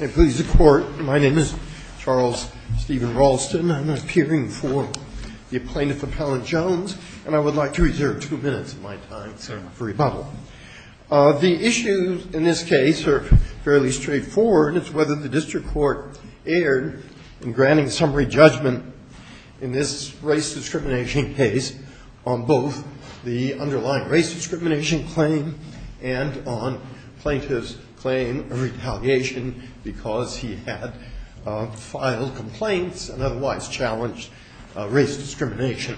My name is Charles Stephen Ralston. I'm appearing for the plaintiff, Appellant Jones, and I would like to reserve two minutes of my time for rebuttal. The issues in this case are fairly straightforward. It's whether the district court erred in granting summary judgment in this race discrimination case on both the underlying race discrimination claim and on plaintiff's claim of retaliation because he had filed complaints and otherwise challenged race discrimination.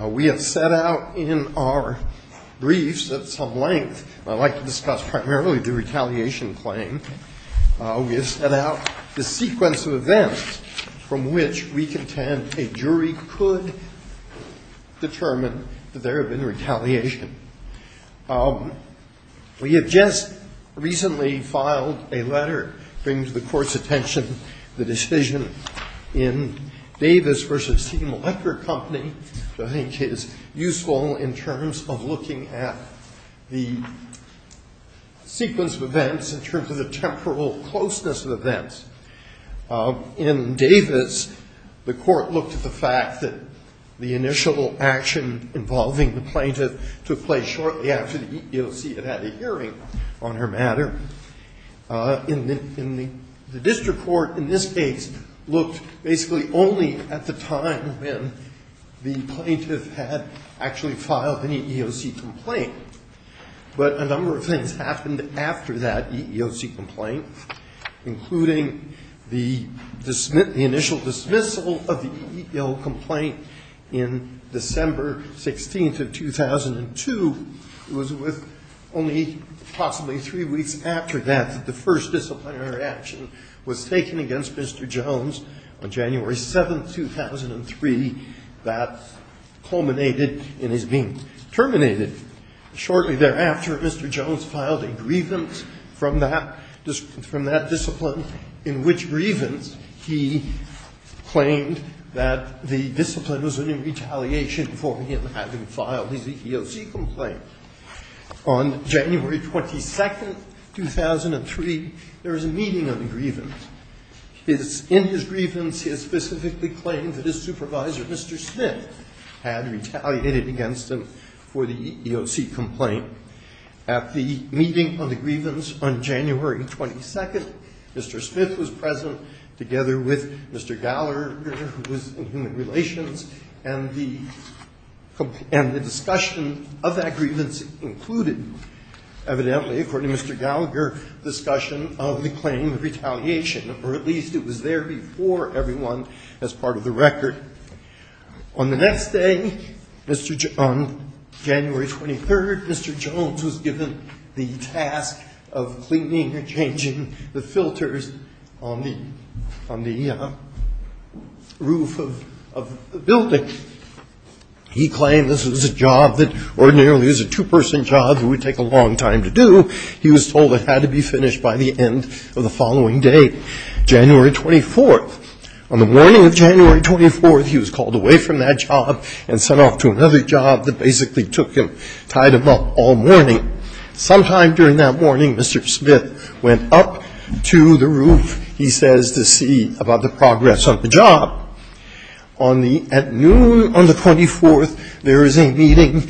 We have set out in our briefs at some length, and I'd like to discuss primarily the retaliation claim, we have set out the sequence of events from which we contend a jury could determine that there had been retaliation. We have just recently filed a letter bringing to the Court's attention the decision in Davis v. Team Electric Company, which I think is useful in terms of looking at the sequence of events in terms of the temporal closeness of events. In Davis, the Court looked at the fact that the initial action involving the plaintiff took place shortly after the EEOC had had a hearing on her matter. In the district court in this case looked basically only at the time when the plaintiff had actually filed an EEOC complaint, but a number of things happened after that EEOC complaint, including the initial dismissal of the EEOC complaint in December 16th of 2002. It was with only possibly three weeks after that that the first disciplinary action was taken against Mr. Jones on January 7th, 2003. That culminated in his being terminated. Shortly thereafter, Mr. Jones filed a grievance from that discipline, in which he claimed that the discipline was in retaliation for him having filed his EEOC complaint. On January 22nd, 2003, there was a meeting on the grievance. In his grievance, he had specifically claimed that his supervisor, Mr. Smith, had retaliated against him for the EEOC complaint. At the meeting on the grievance on January 22nd, Mr. Smith was present together with Mr. Gallagher, who was in human relations, and the discussion of that grievance included, evidently, according to Mr. Gallagher, the discussion of the claim of retaliation, or at least it was there before everyone as part of the record. On the next day, Mr. — on January 23rd, Mr. Jones was given the task of cleaning and changing the filters on the — on the roof of the building. He claimed this was a job that ordinarily is a two-person job that would take a long time to do. He was told it had to be finished by the end of the following day, January 24th. On the morning of January 24th, he was called away from that job and sent off to another job that basically took him — tied him up all morning. Sometime during that morning, Mr. Smith went up to the roof, he says, to see about the progress on the job. On the — at noon on the 24th, there is a meeting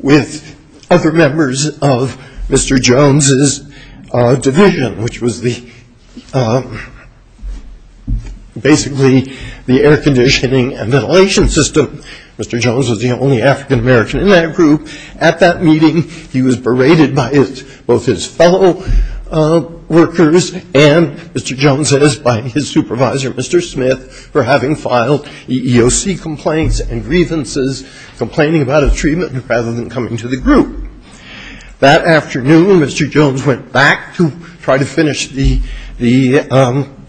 with other members of Mr. Jones's division, which was the — basically the air conditioning and ventilation system. Mr. Jones was the only African American in that group. At that meeting, he was berated by his — both his fellow workers and, Mr. Jones says, by his supervisor, Mr. Smith, for having filed EEOC complaints and grievances, complaining about his treatment rather than coming to the group. That afternoon, Mr. Jones went back to try to finish the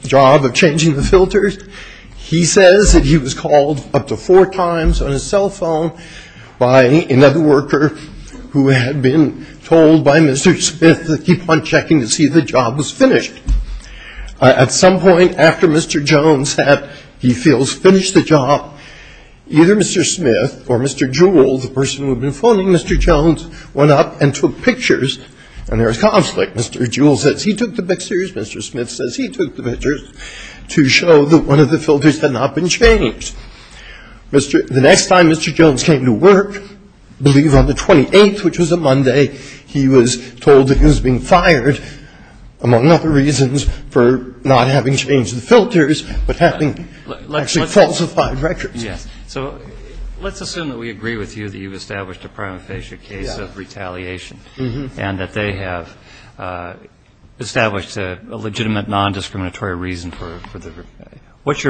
job of changing the filters. He says that he was called up to four times on his cell phone by another worker who had been told by Mr. Smith to keep on checking to see if the job was finished. At some point after Mr. Jones had, he feels, finished the job, either Mr. Smith or Mr. Jones, Mr. Jones went up and took pictures. And there was conflict. Mr. Jewell says he took the pictures. Mr. Smith says he took the pictures to show that one of the filters had not been changed. The next time Mr. Jones came to work, I believe on the 28th, which was a Monday, he was told that he was being fired, among other reasons, for not having changed the filters, but having actually falsified records. So let's assume that we agree with you that you've established a prima facie case of retaliation and that they have established a legitimate non-discriminatory reason for the, what's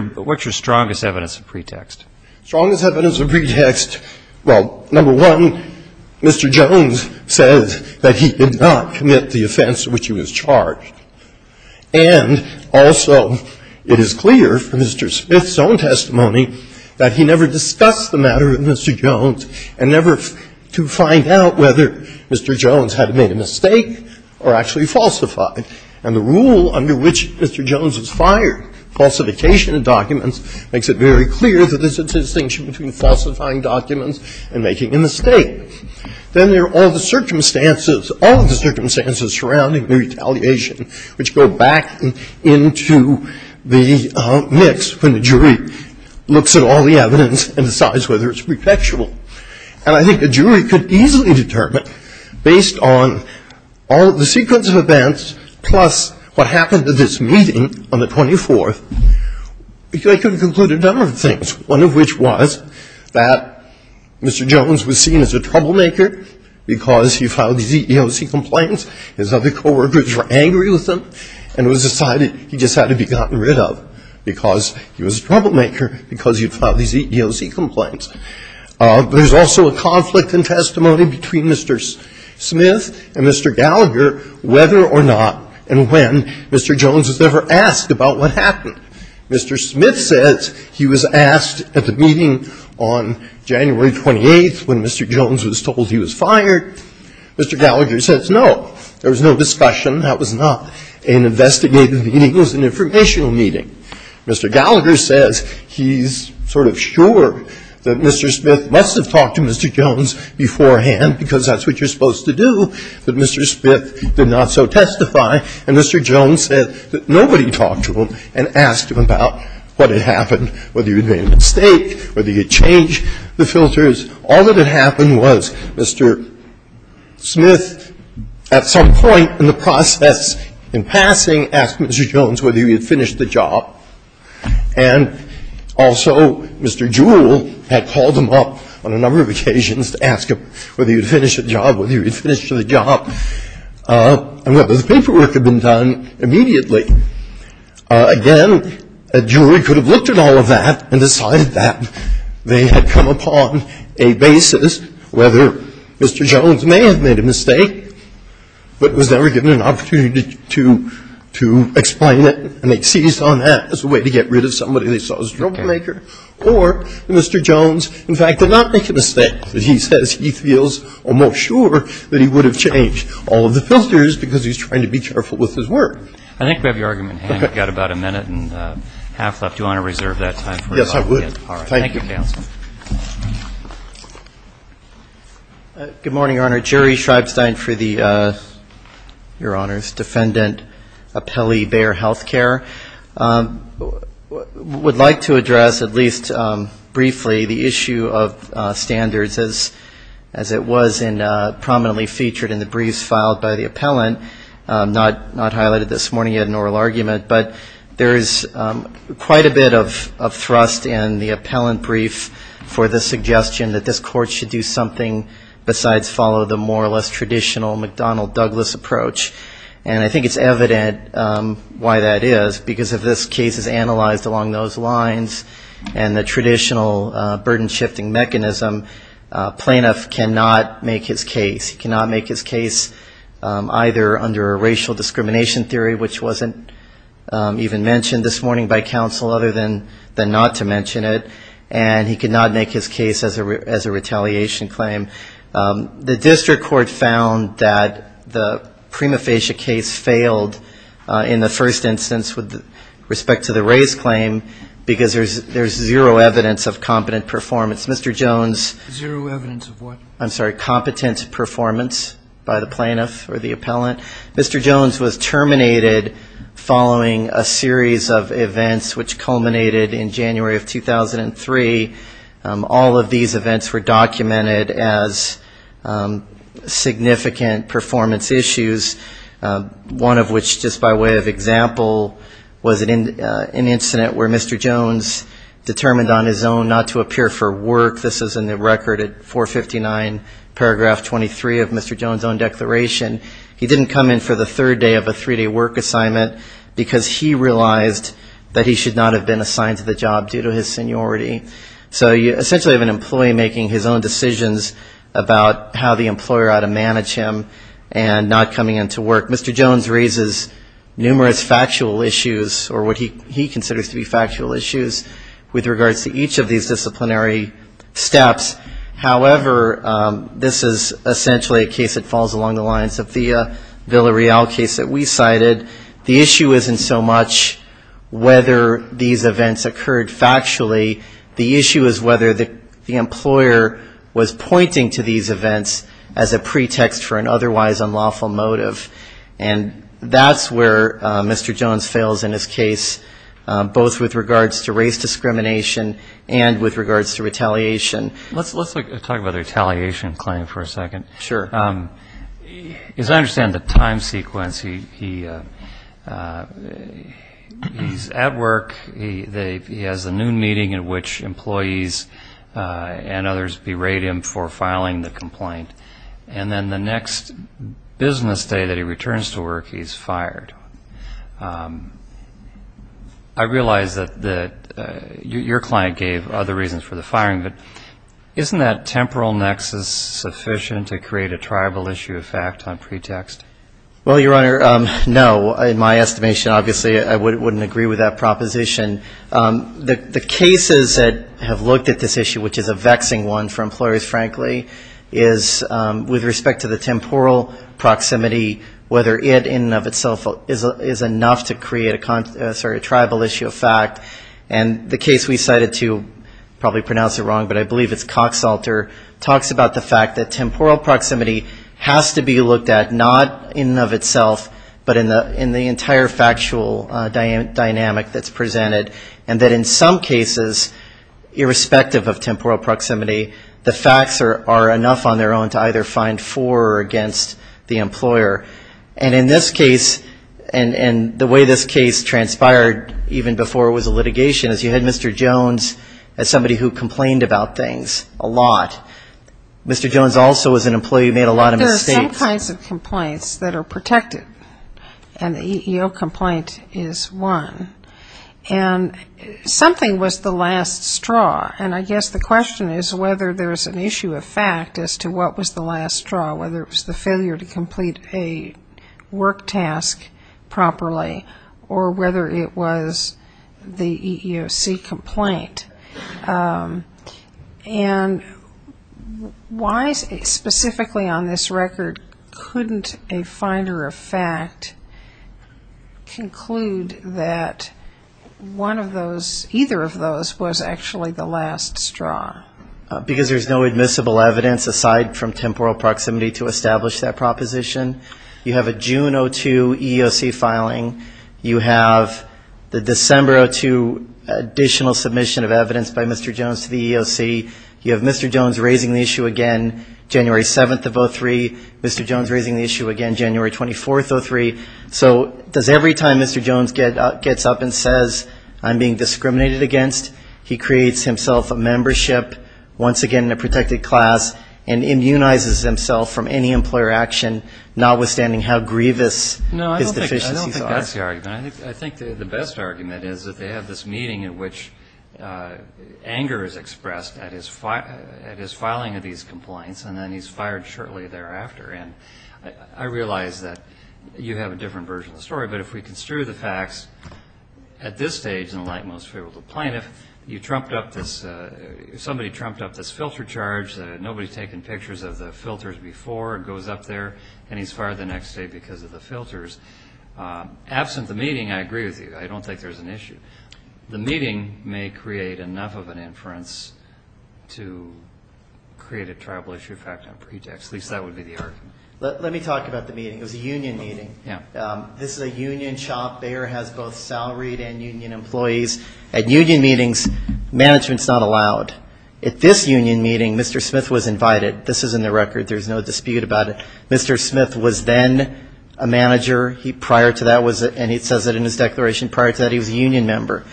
your strongest evidence of pretext? Strongest evidence of pretext, well, number one, Mr. Jones says that he did not commit the offense to which he was charged. And also, it is clear from Mr. Smith's own testimony that he never discussed the matter with Mr. Jones and never to find out whether Mr. Jones had made a mistake or actually falsified. And the rule under which Mr. Jones was fired, falsification of documents, makes it very clear that there's a distinction between falsifying documents and making a mistake. Then there are all the circumstances, all of the circumstances surrounding the retaliation, which go back into the mix when the jury looks at all the evidence and decides whether it's pretextual. And I think a jury could easily determine, based on all of the sequence of events plus what happened at this meeting on the 24th, they could conclude a number of Mr. Jones was a troublemaker because he filed these EEOC complaints. His other co-workers were angry with him, and it was decided he just had to be gotten rid of because he was a troublemaker, because he had filed these EEOC complaints. There's also a conflict in testimony between Mr. Smith and Mr. Gallagher whether or not and when Mr. Jones was ever asked about what happened. Mr. Smith says he was asked at the meeting on January 28th when Mr. Jones was told he was fired. Mr. Gallagher says, no, there was no discussion. That was not an investigative meeting. It was an informational meeting. Mr. Gallagher says he's sort of sure that Mr. Smith must have talked to Mr. Jones beforehand because that's what you're supposed to do, but Mr. Smith did not so testify, and Mr. Jones said that nobody talked to him and asked him about what had happened, whether he had made a mistake, whether he had changed the filters. All that had happened was Mr. Smith, at some point in the process in passing, asked Mr. Jones whether he had finished the job, and also Mr. Jewell had called him up on a number of occasions to ask him whether he had finished the job, and whether the paperwork had been done immediately. Again, a jury could have looked at all of that and decided that they had come upon a basis whether Mr. Jones may have made a mistake, but was never given an opportunity to explain it, and they seized on that as a way to get rid of somebody they saw as a troublemaker, or Mr. Jones, in fact, did not make a mistake. And he says he feels almost sure that he would have changed all of the filters because he's trying to be careful with his work. I think we have your argument. We've got about a minute and a half left. Do you want to reserve that time? Yes, I would. Thank you. Thank you, counsel. Good morning, Your Honor. Jerry Schreibstein for the, Your Honor's Defendant Appellee Bayer Health Care. I would like to address at least briefly the issue of standards as it was prominently featured in the briefs filed by the appellant, not highlighted this morning in an oral argument, but there is quite a bit of thrust in the appellant brief for the suggestion that this court should do something besides follow the more or less traditional McDonnell-Douglas approach. And I think it's evident why that is, because if this case is analyzed along those lines and the traditional burden-shifting mechanism, a plaintiff cannot make his case. He cannot make his case either under a racial discrimination theory, which wasn't even mentioned this morning by counsel other than not to mention it, and he cannot make his case as a retaliation claim. The district court found that the prima facie case failed in the first instance with respect to the race claim because there's zero evidence of competent performance. Mr. Jones. Zero evidence of what? I'm sorry, competent performance by the plaintiff or the appellant. Mr. Jones was terminated following a series of events which culminated in January of 2003. All of these events were documented as significant performance issues, one of which just by way of example was an incident where Mr. Jones determined on his own not to appear for work. This is in the record at 459 paragraph 23 of Mr. Jones' own declaration. He didn't come in for the third day of a three-day work assignment because he realized that he was going to be fired. So you essentially have an employee making his own decisions about how the employer ought to manage him and not coming in to work. Mr. Jones raises numerous factual issues or what he considers to be factual issues with regards to each of these disciplinary steps. However, this is essentially a case that falls along the lines of the Villarreal case that we cited. The issue isn't so much whether these events occurred factually. The issue is whether the employer was pointing to these events as a pretext for an otherwise unlawful motive. And that's where Mr. Jones fails in his case, both with regards to race discrimination and with regards to racial discrimination. As I understand the time sequence, he's at work. He has a noon meeting in which employees and others berate him for filing the complaint. And then the next business day that he returns to work, he's fired. I realize that your client gave other reasons for the firing, but isn't that temporal nexus sufficient to create a tribal issue of fact on pretext? Well, Your Honor, no. In my estimation, obviously, I wouldn't agree with that proposition. The cases that have looked at this issue, which is a vexing one for employers, frankly, is with respect to the temporal proximity, whether it in and of itself is enough to create a tribal issue of fact. And the case we cited to, probably pronounce it wrong, but I believe it's Coxalter, talks about the fact that temporal proximity has to be looked at not in and of itself, but in the entire factual dynamic that's presented. And that in some cases, irrespective of temporal proximity, the facts are enough on their own to either find for or against the employer. And in this case, and the way this case transpired even before it was a litigation, is you had Mr. Jones as somebody who complained about things a lot. Mr. Jones also as an employee made a lot of mistakes. There are some kinds of complaints that are protected, and the EEO complaint is one. And something was the last straw, and I guess the question is whether there's an issue of fact as to what was the last straw, whether it was the failure to complete a work task properly, or whether it was the EEOC complaint. And why specifically on this record couldn't a finder of fact conclude that one of those, either of those, was actually the last straw? Because there's no admissible evidence aside from temporal proximity to establish that proposition. You have a June 02 EEOC filing. You have the December 02 additional submission of evidence by Mr. Jones to the EEOC. You have Mr. Jones raising the issue again January 7th of 03. Mr. Jones raising the issue again January 24th of 03. So does every time Mr. Jones gets up and says I'm being discriminated against, he creates himself a membership once again in the EEOC? I don't think that's the argument. I think the best argument is that they have this meeting in which anger is expressed at his filing of these complaints, and then he's fired shortly thereafter. And I realize that you have a different version of the story, but if we construe the facts at this stage in the light and most favorable plane, if you trumped up this, if somebody trumped up this filter charge, nobody's taken pictures of the filters before, and it goes up there, and he's fired the next day because of the filters. Absent the meeting, I agree with you. I don't think there's an issue. The meeting may create enough of an inference to create a tribal issue fact on pretext. At least that would be the argument. Let me talk about the meeting. It was a union meeting. This is a union chop. Bayer has both salaried and union employees. At union meetings, management's not allowed. At this union meeting, Mr. Smith was invited. This is in the record. There's no dispute about it. Mr. Smith was then a manager. Prior to that, and it says it in his declaration, prior to that, he was a union member.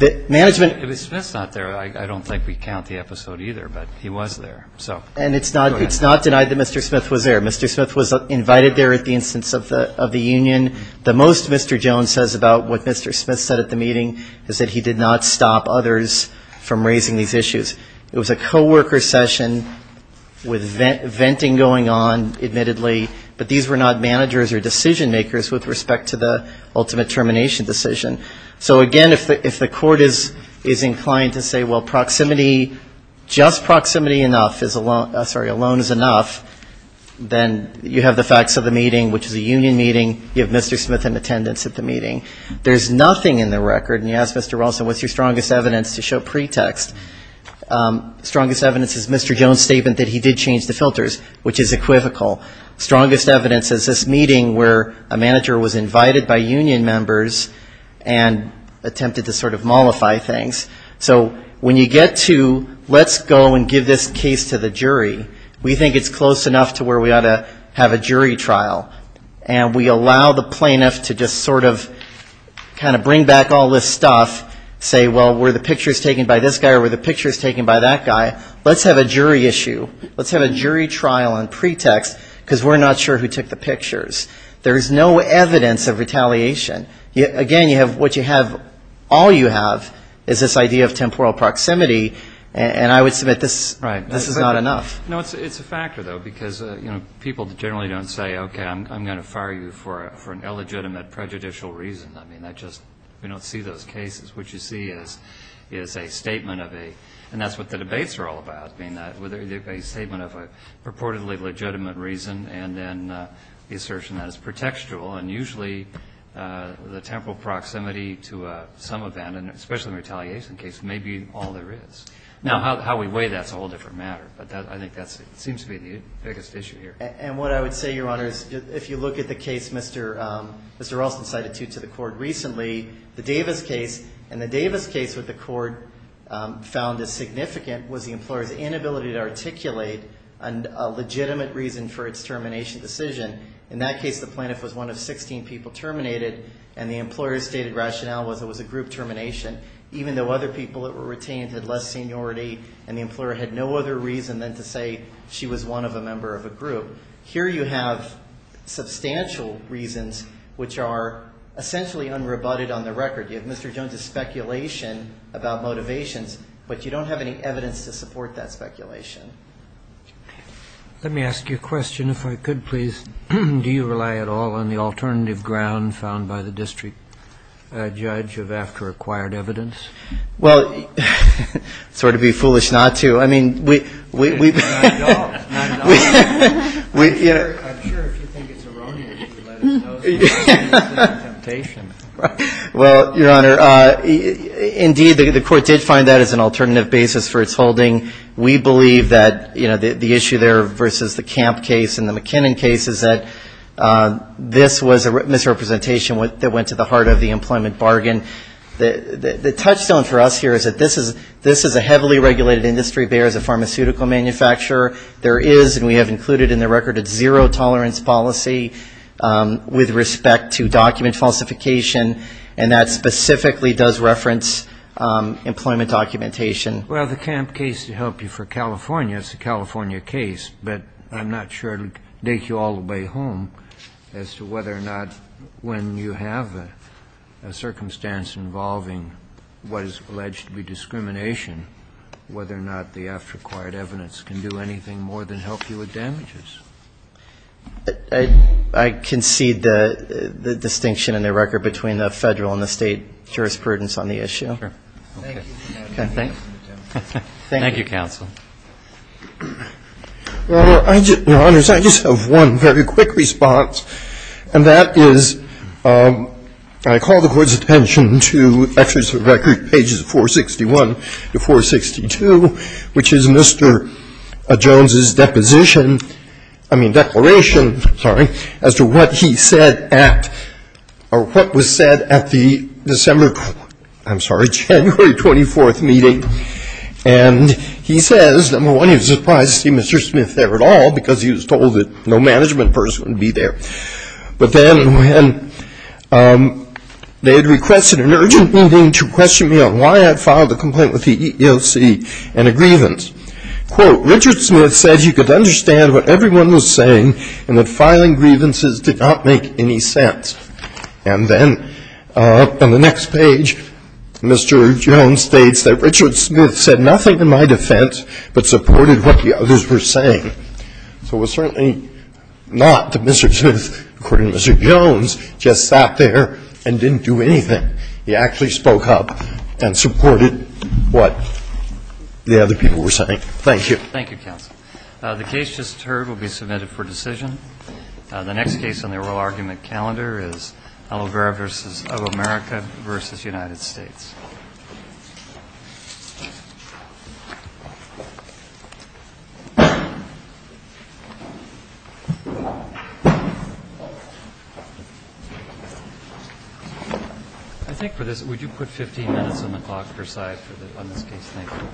If Smith's not there, I don't think we count the episode either, but he was there. And it's not denied that Mr. Smith was there. Mr. Smith was invited there at the instance of the union. The most Mr. Jones says about what Mr. Smith said at the meeting is that he did not stop others from raising these issues. It was a co-worker session with venting going on, admittedly, but these were not managers or decision-makers with respect to the ultimate termination decision. So, again, if the court is inclined to say, well, proximity, just proximity enough, sorry, alone is enough, then you have the facts of the meeting, which is a union meeting. You have Mr. Smith in attendance at the meeting. There's nothing in the record, and you ask Mr. Rawlston, what's your strongest evidence to show pretext? Strongest evidence is Mr. Jones' statement that he did change the filters, which is equivocal. Strongest evidence is this meeting where a manager was invited by union members and attempted to sort of mollify things. So when you get to, let's go and give this case to the jury, we think it's close enough to where we ought to have a jury trial. And we allow the plaintiff to just sort of kind of bring back all this stuff, say, well, were the pictures taken by this guy or were the pictures taken by that guy? Let's have a jury issue. Let's have a jury trial on pretext, because we're not sure who took the pictures. There's no evidence of retaliation. Again, what you have, all you have is this idea of temporal proximity, and I would submit this is not enough. No, it's a factor, though, because, you know, people generally don't say, okay, I'm going to fire you for an illegitimate prejudicial reason. I mean, that just, we don't see those cases. What you see is a statement of a, and that's what the debates are all about, a statement of a purportedly legitimate reason, and then the assertion that it's pretextual. And usually the temporal proximity to some event, and especially in a retaliation case, may be all there is. Now, how we weigh that's a whole different matter, but I think that seems to be the biggest issue here. And what I would say, Your Honor, is if you look at the case Mr. Ralston cited to the court recently, the Davis case, and the Davis case that the court found as significant was the employer's inability to articulate a legitimate reason for its termination decision. In that case, the plaintiff was one of 16 people terminated, and the employer's stated rationale was it was a group termination, even though other people that were retained had less seniority, and the employer had no other reason than to say she was one of a member of a group. Here you have substantial reasons which are essentially unrebutted on the record. You have Mr. Jones's speculation about motivations, but you don't have any evidence to support that speculation. Let me ask you a question, if I could, please. Do you rely at all on the alternative ground found by the district judge of after acquired evidence? Sort of be foolish not to. I'm sure if you think it's erroneous you would let us know. Well, Your Honor, indeed the court did find that as an alternative basis for its holding. We believe that the issue there versus the Camp case and the McKinnon case is that this was a misrepresentation that went to the heart of the employment bargain. The touchstone for us here is that this is a heavily regulated industry, Bayer is a pharmaceutical manufacturer. There is, and we have included in the record, a zero tolerance policy with respect to document falsification, and that specifically does reference employment documentation. Well, the Camp case to help you for California, it's a California case, but I'm not sure it would take you all the way home as to whether or not when you have a circumstance, involving what is alleged to be discrimination, whether or not the after acquired evidence can do anything more than help you with damages. I concede the distinction in the record between the Federal and the State jurisprudence on the issue. Thank you, counsel. Well, Your Honors, I just have one very quick response, and that is I call the court's attention to the fact that this is a case where the judge, and I'm going to go back to the record, pages 461 to 462, which is Mr. Jones's deposition, I mean declaration, sorry, as to what he said at, or what was said at the December, I'm sorry, January 24th meeting. And he says, number one, he was surprised to see Mr. Smith there at all, because he was told that no management person would be there. But then when they had requested an urgent meeting to question me on why I had filed a complaint with the EEOC and a grievance. Quote, Richard Smith said he could understand what everyone was saying, and that filing grievances did not make any sense. And then on the next page, Mr. Jones states that Richard Smith said nothing in my defense, but supported what the others were saying. So it was certainly not that Mr. Smith, according to Mr. Jones, just sat there and didn't do anything. He actually spoke up and supported what the other people were saying. Thank you. Thank you, counsel. The case just heard will be submitted for decision. The next case on the oral argument calendar is Aloe Vera v. Of America v. United States. I think for this, would you put 15 minutes on the clock per side on this case, thank you. Thank you.